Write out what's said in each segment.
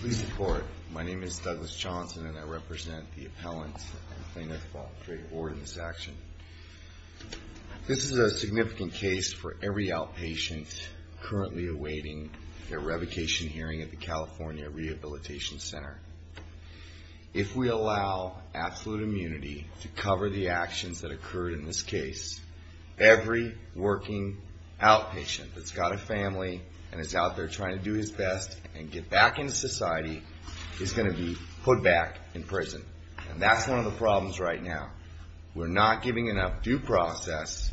Please report. My name is Douglas Johnson, and I represent the appellant and plaintiff on the great hoard in this action. This is a significant case for every outpatient currently awaiting their revocation hearing at the California Rehabilitation Center. If we allow absolute immunity to cover the actions that occurred in this case, every working outpatient that's got a family and is out there trying to do his best and get back into society is going to be put back in prison. And that's one of the problems right now. We're not giving enough due process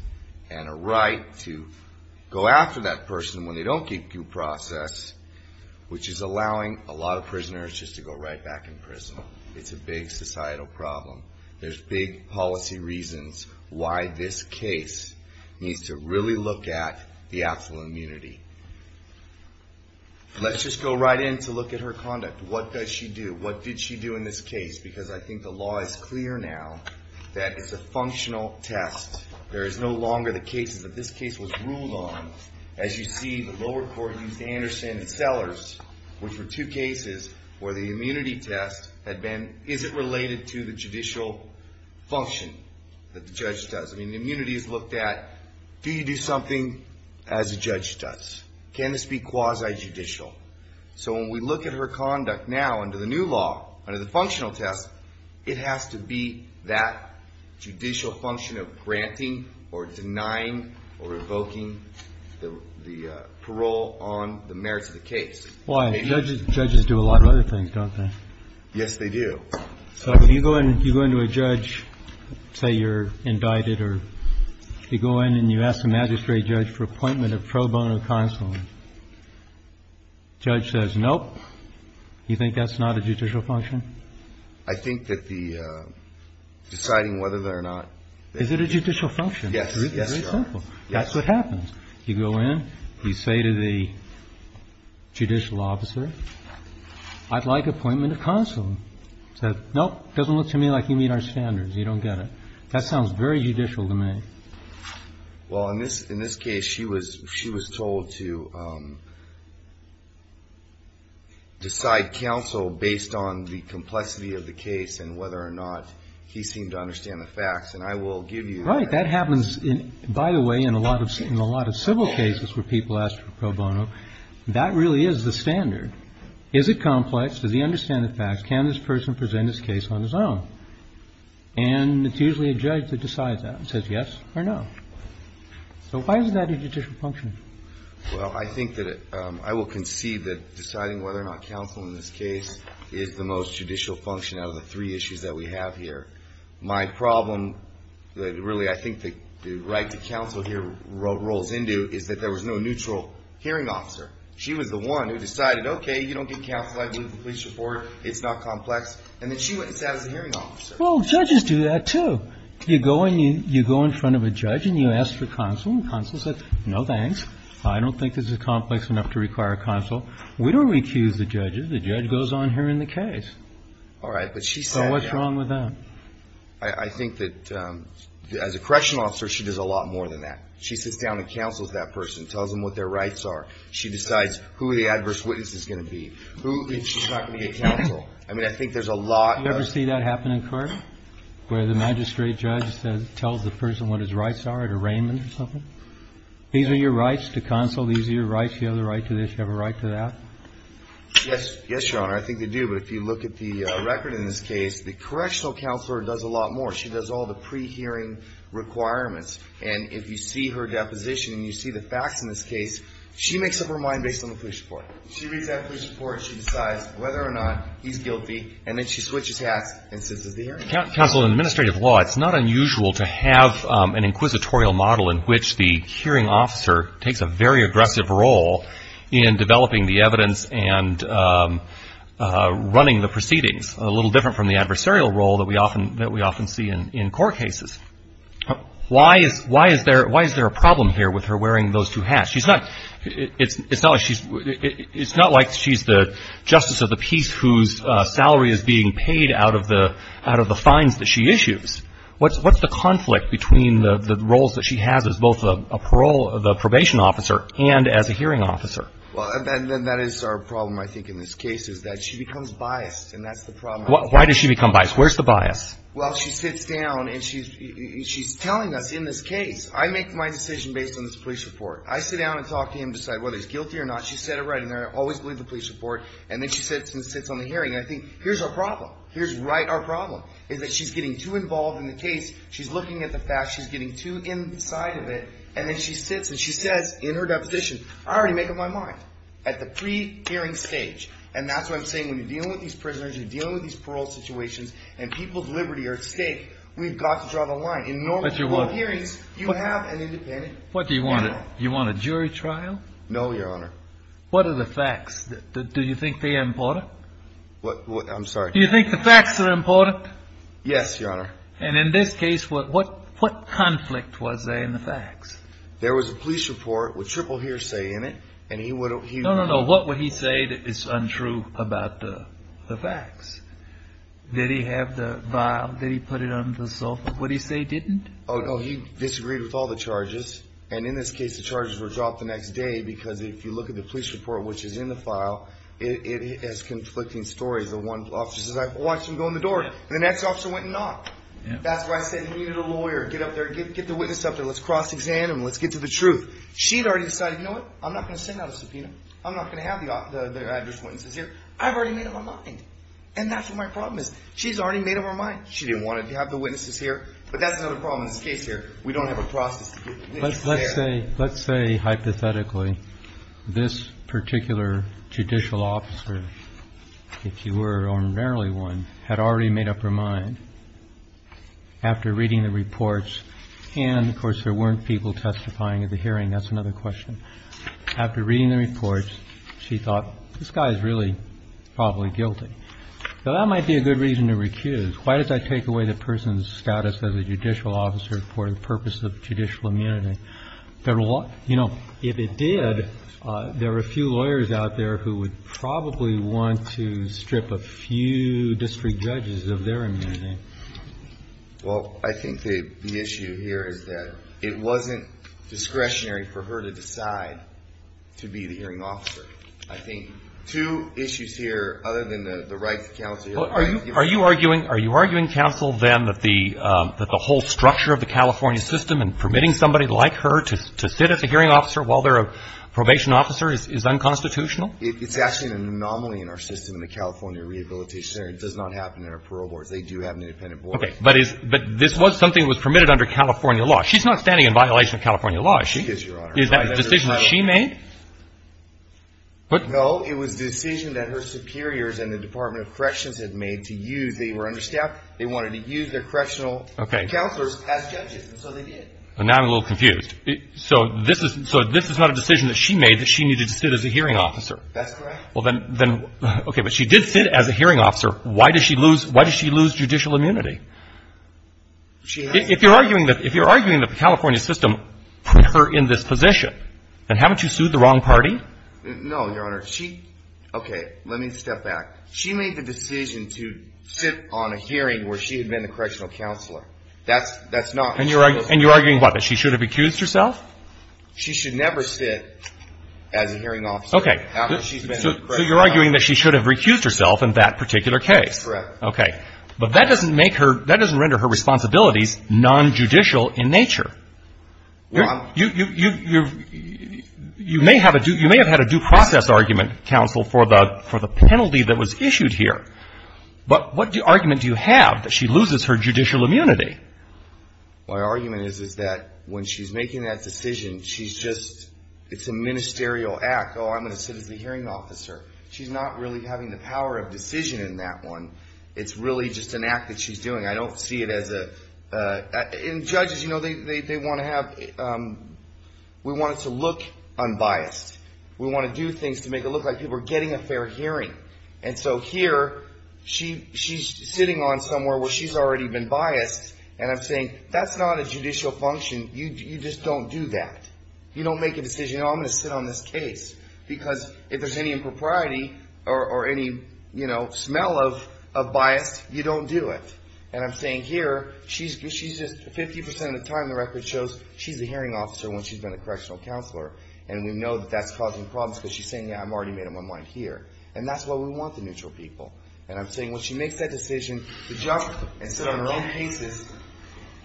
and a right to go after that person when they don't get due process, which is allowing a lot of prisoners just to go right back in prison. It's a big societal problem. There's big policy reasons why this case needs to really look at the absolute immunity. Let's just go right in to look at her conduct. What does she do? What did she do in this case? Because I think the law is clear now that it's a functional test. There is no longer the cases that this case was ruled on. As you see, the lower court used Anderson and Sellers, which were two cases where the immunity test isn't related to the judicial function that the judge does. Immunity is looked at, do you do something as a judge does? Can this be quasi-judicial? So when we look at her conduct now under the new law, under the functional test, it has to be that judicial function of granting or denying or revoking the parole on the merits of the case. Why? Judges do a lot of other things, don't they? Yes, they do. So if you go into a judge, say you're indicted, or you go in and you ask the magistrate judge for appointment of pro bono counsel, judge says, nope, you think that's not a judicial function? I think that the deciding whether they're not. Is it a judicial function? Yes. Very simple. That's what happens. You go in, you say to the judicial officer, I'd like appointment of counsel. He says, nope, doesn't look to me like you meet our standards. You don't get it. That sounds very judicial to me. Well, in this case, she was told to decide counsel based on the complexity of the case and whether or not he seemed to understand the facts. And I will give you that. Right. That happens, by the way, in a lot of civil cases where people ask for pro bono. That really is the standard. Is it complex? Does he understand the facts? Can this person present his case on his own? And it's usually a judge that decides that and says yes or no. So why is that a judicial function? Well, I think that I will concede that deciding whether or not counsel in this case is the most judicial function out of the three issues that we have here. My problem, really, I think the right to counsel here rolls into is that there was no neutral hearing officer. She was the one who decided, okay, you don't get counsel. I believe the police report. It's not complex. And then she went and sat as a hearing officer. Well, judges do that, too. You go and you go in front of a judge and you ask for counsel. Counsel says, no, thanks. I don't think this is complex enough to require counsel. We don't recuse the judges. The judge goes on hearing the case. All right. But she said, yeah. So what's wrong with that? I think that as a correctional officer, she does a lot more than that. She sits down and counsels that person, tells them what their rights are. She decides who the adverse witness is going to be, who she's not going to get counsel. I mean, I think there's a lot of ---- You ever see that happen in court where the magistrate judge tells the person what his rights are at arraignment or something? These are your rights to counsel. These are your rights. You have a right to this. You have a right to that. Yes. Yes, Your Honor. I think they do. But if you look at the record in this case, the correctional counselor does a lot more. She does all the pre-hearing requirements. And if you see her deposition and you see the facts in this case, she makes up her mind based on the police report. She reads that police report. She decides whether or not he's guilty, and then she switches hats and sits at the hearing. Counsel, in administrative law, it's not unusual to have an inquisitorial model in which the hearing officer takes a very aggressive role in developing the evidence and running the proceedings, a little different from the adversarial role that we often see in court cases. Why is there a problem here with her wearing those two hats? It's not like she's the justice of the peace whose salary is being paid out of the fines that she issues. What's the conflict between the roles that she has as both the probation officer and as a hearing officer? Well, that is our problem, I think, in this case is that she becomes biased, and that's the problem. Why does she become biased? Where's the bias? Well, she sits down and she's telling us in this case, I make my decision based on this police report. I sit down and talk to him and decide whether he's guilty or not. She said it right in there. I always believe the police report. And then she sits and sits on the hearing. I think here's our problem. Here's right our problem is that she's getting too involved in the case. She's looking at the facts. She's getting too inside of it. And then she sits and she says in her deposition, I already make up my mind at the pre-hearing stage. And that's what I'm saying. When you're dealing with these prisoners, you're dealing with these parole situations, and people's liberty are at stake, we've got to draw the line. In normal court hearings, you have an independent panel. What do you want? Do you want a jury trial? No, Your Honor. What are the facts? Do you think they're important? What? I'm sorry. Do you think the facts are important? Yes, Your Honor. And in this case, what conflict was there in the facts? There was a police report with triple hearsay in it, and he would have... No, no, no. What would he say that is untrue about the facts? Did he have the file? Did he put it on the sofa? What did he say he didn't? Oh, he disagreed with all the charges. And in this case, the charges were dropped the next day because if you look at the police report, which is in the file, it has conflicting stories. The one officer says, I watched him go in the door, and the next officer went and knocked. That's why I said he needed a lawyer. Get up there. Get the witness up there. Let's cross-examine him. Let's get to the truth. She had already decided, you know what? I'm not going to send out a subpoena. I'm not going to have the address witnesses here. I've already made up my mind. And that's what my problem is. She's already made up her mind. She didn't want to have the witnesses here, but that's another problem in this case here. We don't have a process to get the witnesses there. Let's say hypothetically this particular judicial officer, if you were or narrowly one, had already made up her mind. After reading the reports, and, of course, there weren't people testifying at the hearing. That's another question. After reading the reports, she thought, this guy is really probably guilty. So that might be a good reason to recuse. Why does that take away the person's status as a judicial officer for the purpose of judicial immunity? You know, if it did, there are a few lawyers out there who would probably want to strip a few district judges of their immunity. Well, I think the issue here is that it wasn't discretionary for her to decide to be the hearing officer. I think two issues here, other than the right to counsel. Are you arguing, counsel, then, that the whole structure of the California system and permitting somebody like her to sit as a hearing officer while they're a probation officer is unconstitutional? It's actually an anomaly in our system in the California Rehabilitation Center. It does not happen in our parole boards. They do have an independent board. Okay. But this was something that was permitted under California law. She's not standing in violation of California law. She is, Your Honor. Is that a decision that she made? No. It was a decision that her superiors and the Department of Corrections had made to use. They were understaffed. They wanted to use their correctional counselors as judges, and so they did. Now I'm a little confused. So this is not a decision that she made that she needed to sit as a hearing officer? That's correct. Okay. But she did sit as a hearing officer. Why does she lose judicial immunity? If you're arguing that the California system put her in this position, then haven't you sued the wrong party? No, Your Honor. She, okay, let me step back. She made the decision to sit on a hearing where she had been a correctional counselor. That's not. And you're arguing, what, that she should have accused herself? She should never sit as a hearing officer after she's been a correctional counselor. So you're arguing that she should have recused herself in that particular case. That's correct. Okay. But that doesn't make her, that doesn't render her responsibilities nonjudicial in nature. Well, I'm. You may have had a due process argument, counsel, for the penalty that was issued here. But what argument do you have that she loses her judicial immunity? My argument is that when she's making that decision, she's just, it's a ministerial act. Oh, I'm going to sit as a hearing officer. She's not really having the power of decision in that one. It's really just an act that she's doing. I don't see it as a, and judges, you know, they want to have, we want it to look unbiased. We want to do things to make it look like people are getting a fair hearing. And so here, she's sitting on somewhere where she's already been biased. And I'm saying, that's not a judicial function. You just don't do that. You don't make a decision, oh, I'm going to sit on this case. Because if there's any impropriety or any, you know, smell of bias, you don't do it. And I'm saying here, she's just, 50% of the time the record shows she's a hearing officer when she's been a correctional counselor. And we know that that's causing problems because she's saying, yeah, I've already made up my mind here. And that's why we want the neutral people. And I'm saying when she makes that decision to jump and sit on her own cases,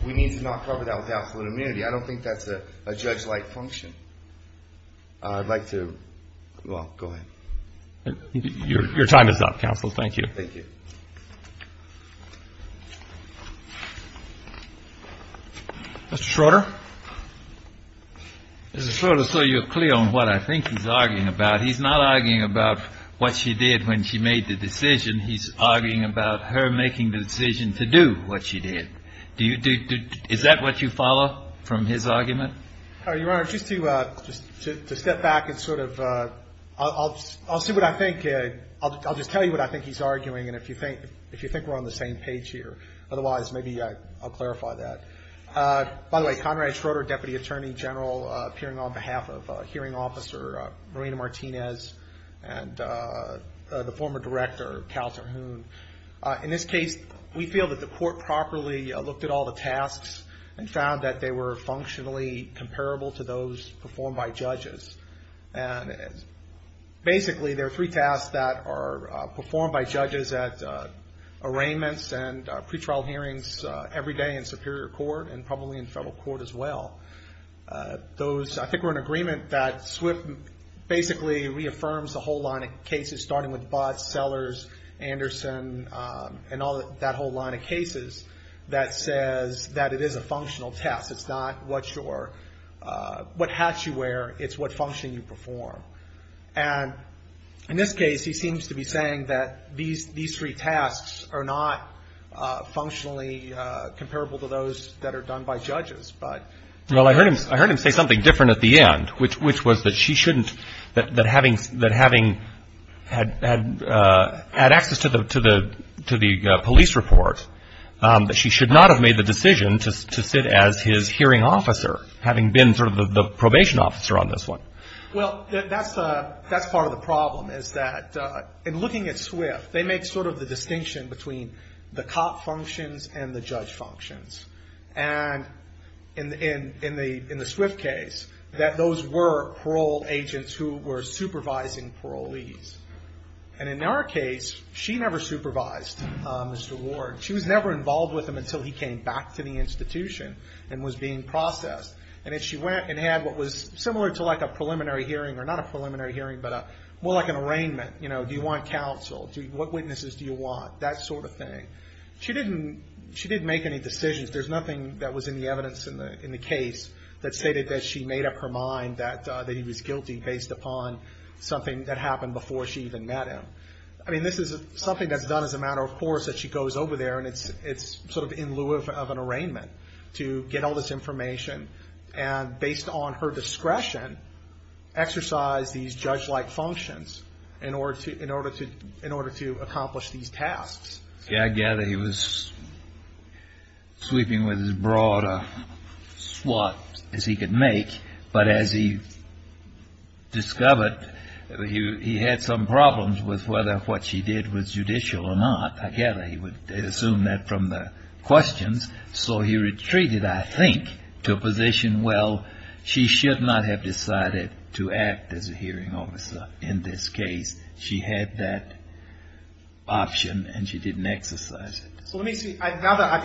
we need to not cover that with absolute immunity. I don't think that's a judge-like function. I'd like to, well, go ahead. Your time is up, counsel. Thank you. Mr. Schroeder. Mr. Schroeder, so you're clear on what I think he's arguing about. He's not arguing about what she did when she made the decision. He's arguing about her making the decision to do what she did. Do you, is that what you follow from his argument? Your Honor, just to step back and sort of, I'll see what I think. I'll just tell you what I think he's arguing. And if you think we're on the same page here. Otherwise, maybe I'll clarify that. By the way, Conrad Schroeder, Deputy Attorney General, appearing on behalf of Hearing Officer Marina Martinez and the former director, Counselor Hoon. In this case, we feel that the court properly looked at all the tasks and, basically, there are three tasks that are performed by judges at arraignments and pretrial hearings every day in Superior Court and probably in federal court as well. Those, I think we're in agreement that SWIFT basically reaffirms the whole line of cases, starting with Botts, Sellers, Anderson, and all that whole line of cases that says that it is a functional test. It's not what your, what hat you wear. It's what function you perform. And in this case, he seems to be saying that these three tasks are not functionally comparable to those that are done by judges. Well, I heard him say something different at the end, which was that she shouldn't, that having had access to the police report, that she should not have made the decision to sit as his hearing officer, having been sort of the probation officer on this one. Well, that's part of the problem, is that in looking at SWIFT, they make sort of the distinction between the cop functions and the judge functions. And in the SWIFT case, that those were parole agents who were supervising parolees. And in our case, she never supervised Mr. Ward. She was never involved with him until he came back to the institution and was being processed. And then she went and had what was similar to like a preliminary hearing, or not a preliminary hearing, but more like an arraignment. You know, do you want counsel? What witnesses do you want? That sort of thing. She didn't make any decisions. There's nothing that was in the evidence in the case that stated that she made up that he was guilty based upon something that happened before she even met him. I mean, this is something that's done as a matter of course, that she goes over there and it's sort of in lieu of an arraignment to get all this information and, based on her discretion, exercise these judge-like functions in order to accomplish these tasks. Yeah, I gather he was sweeping with as broad a swat as he could make, but as he discovered, he had some problems with whether what she did was judicial or not. I gather he would assume that from the questions. So he retreated, I think, to a position, well, she should not have decided to act as a hearing officer in this case. She had that option and she didn't exercise it. So let me see. Now that I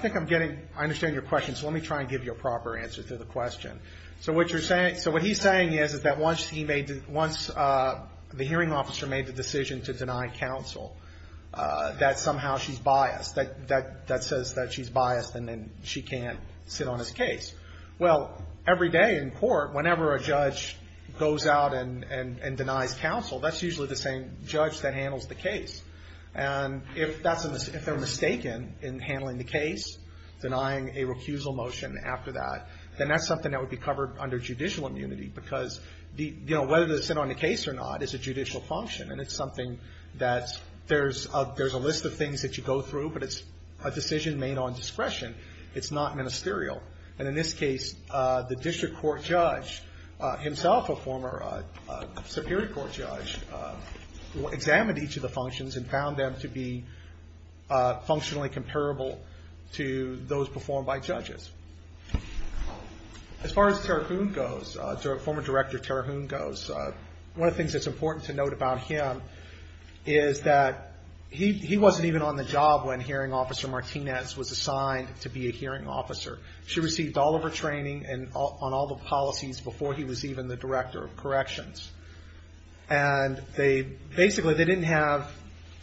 think I'm getting, I understand your question, so let me try and give you a proper answer to the question. So what he's saying is that once the hearing officer made the decision to deny counsel, that somehow she's biased, that says that she's biased and then she can't sit on his case. Well, every day in court, whenever a judge goes out and denies counsel, that's usually the same judge that handles the case. And if they're mistaken in handling the case, denying a recusal motion after that, then that's something that would be covered under judicial immunity, because whether to sit on the case or not is a judicial function. And it's something that's, there's a list of things that you go through, but it's a decision made on discretion. It's not ministerial. And in this case, the district court judge himself, a former Superior Court judge, examined each of the functions and found them to be functionally comparable to those performed by judges. As far as Terahoon goes, former Director Terahoon goes, one of the things that's important to note about him is that he wasn't even on the job when Hearing Officer Martinez was assigned to be a hearing officer. She received all of her training on all the policies before he was even the Director of Corrections. And they basically, they didn't have,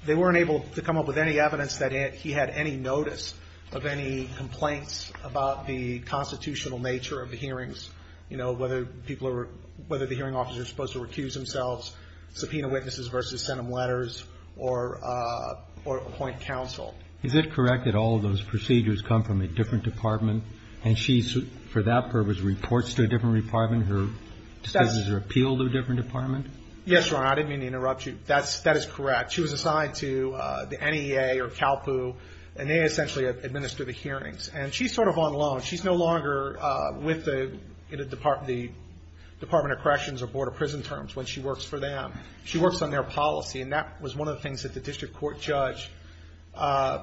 they weren't able to come up with any evidence that he had any notice of any complaints about the constitutional nature of the hearings, you know, whether people were, whether the hearing officers were supposed to recuse themselves, subpoena witnesses versus send them letters, or appoint counsel. Is it correct that all of those procedures come from a different department? And she, for that purpose, reports to a different department? Does she appeal to a different department? Yes, Your Honor. I didn't mean to interrupt you. That is correct. She was assigned to the NEA or CALPU, and they essentially administer the hearings. And she's sort of on loan. She's no longer with the Department of Corrections or Board of Prison Terms when she works for them. She works on their policy, and that was one of the things that the district court judge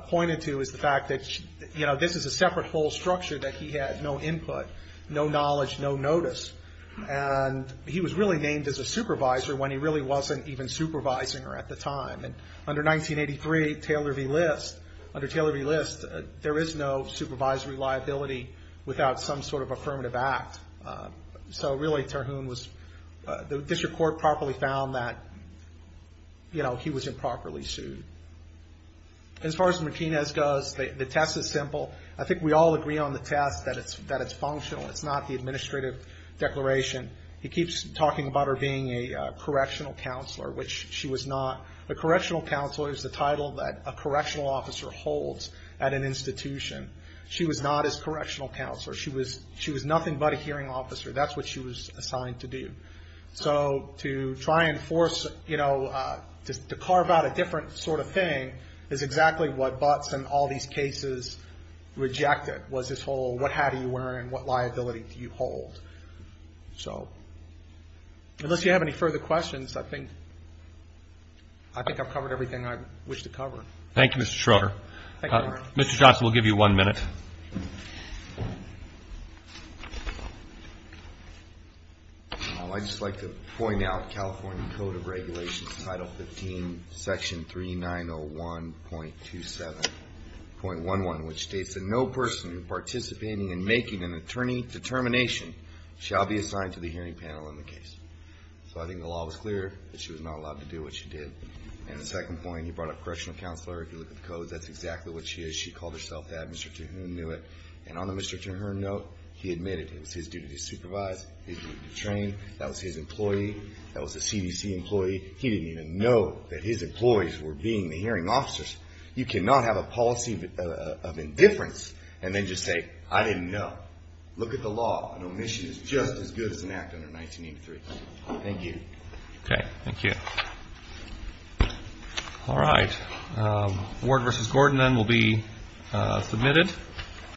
pointed to is the fact that, you know, this is a separate whole structure that he had no input, no knowledge, no notice. And he was really named as a supervisor when he really wasn't even supervising her at the time. And under 1983, Taylor v. List, under Taylor v. List, there is no supervisory liability without some sort of affirmative act. So really, Terhune was the district court properly found that, you know, he was improperly sued. As far as Martinez goes, the test is simple. I think we all agree on the test that it's functional. It's not the administrative declaration. He keeps talking about her being a correctional counselor, which she was not. A correctional counselor is the title that a correctional officer holds at an institution. She was not his correctional counselor. She was nothing but a hearing officer. That's what she was assigned to do. So to try and force, you know, to carve out a different sort of thing is exactly what Butts and all these cases rejected was this whole what hat are you wearing, what liability do you hold. So unless you have any further questions, I think I've covered everything I wish to cover. Thank you, Mr. Schroeder. Thank you, Your Honor. Mr. Johnson, we'll give you one minute. I'd just like to point out California Code of Regulations, Title 15, Section 3901.27.11, which states that no person participating in making an attorney determination shall be assigned to the hearing panel in the case. So I think the law was clear that she was not allowed to do what she did. And the second point, you brought up correctional counselor. If you look at the codes, that's exactly what she is. She called herself that. Mr. Tohune knew it. And on the Mr. Tohune note, he admitted it was his duty to supervise, his duty to train. That was his employee. That was a CDC employee. He didn't even know that his employees were being the hearing officers. You cannot have a policy of indifference and then just say, I didn't know. Look at the law. An omission is just as good as an act under 1983. Thank you. Okay. Thank you. All right. Ward v. Gordon then will be submitted.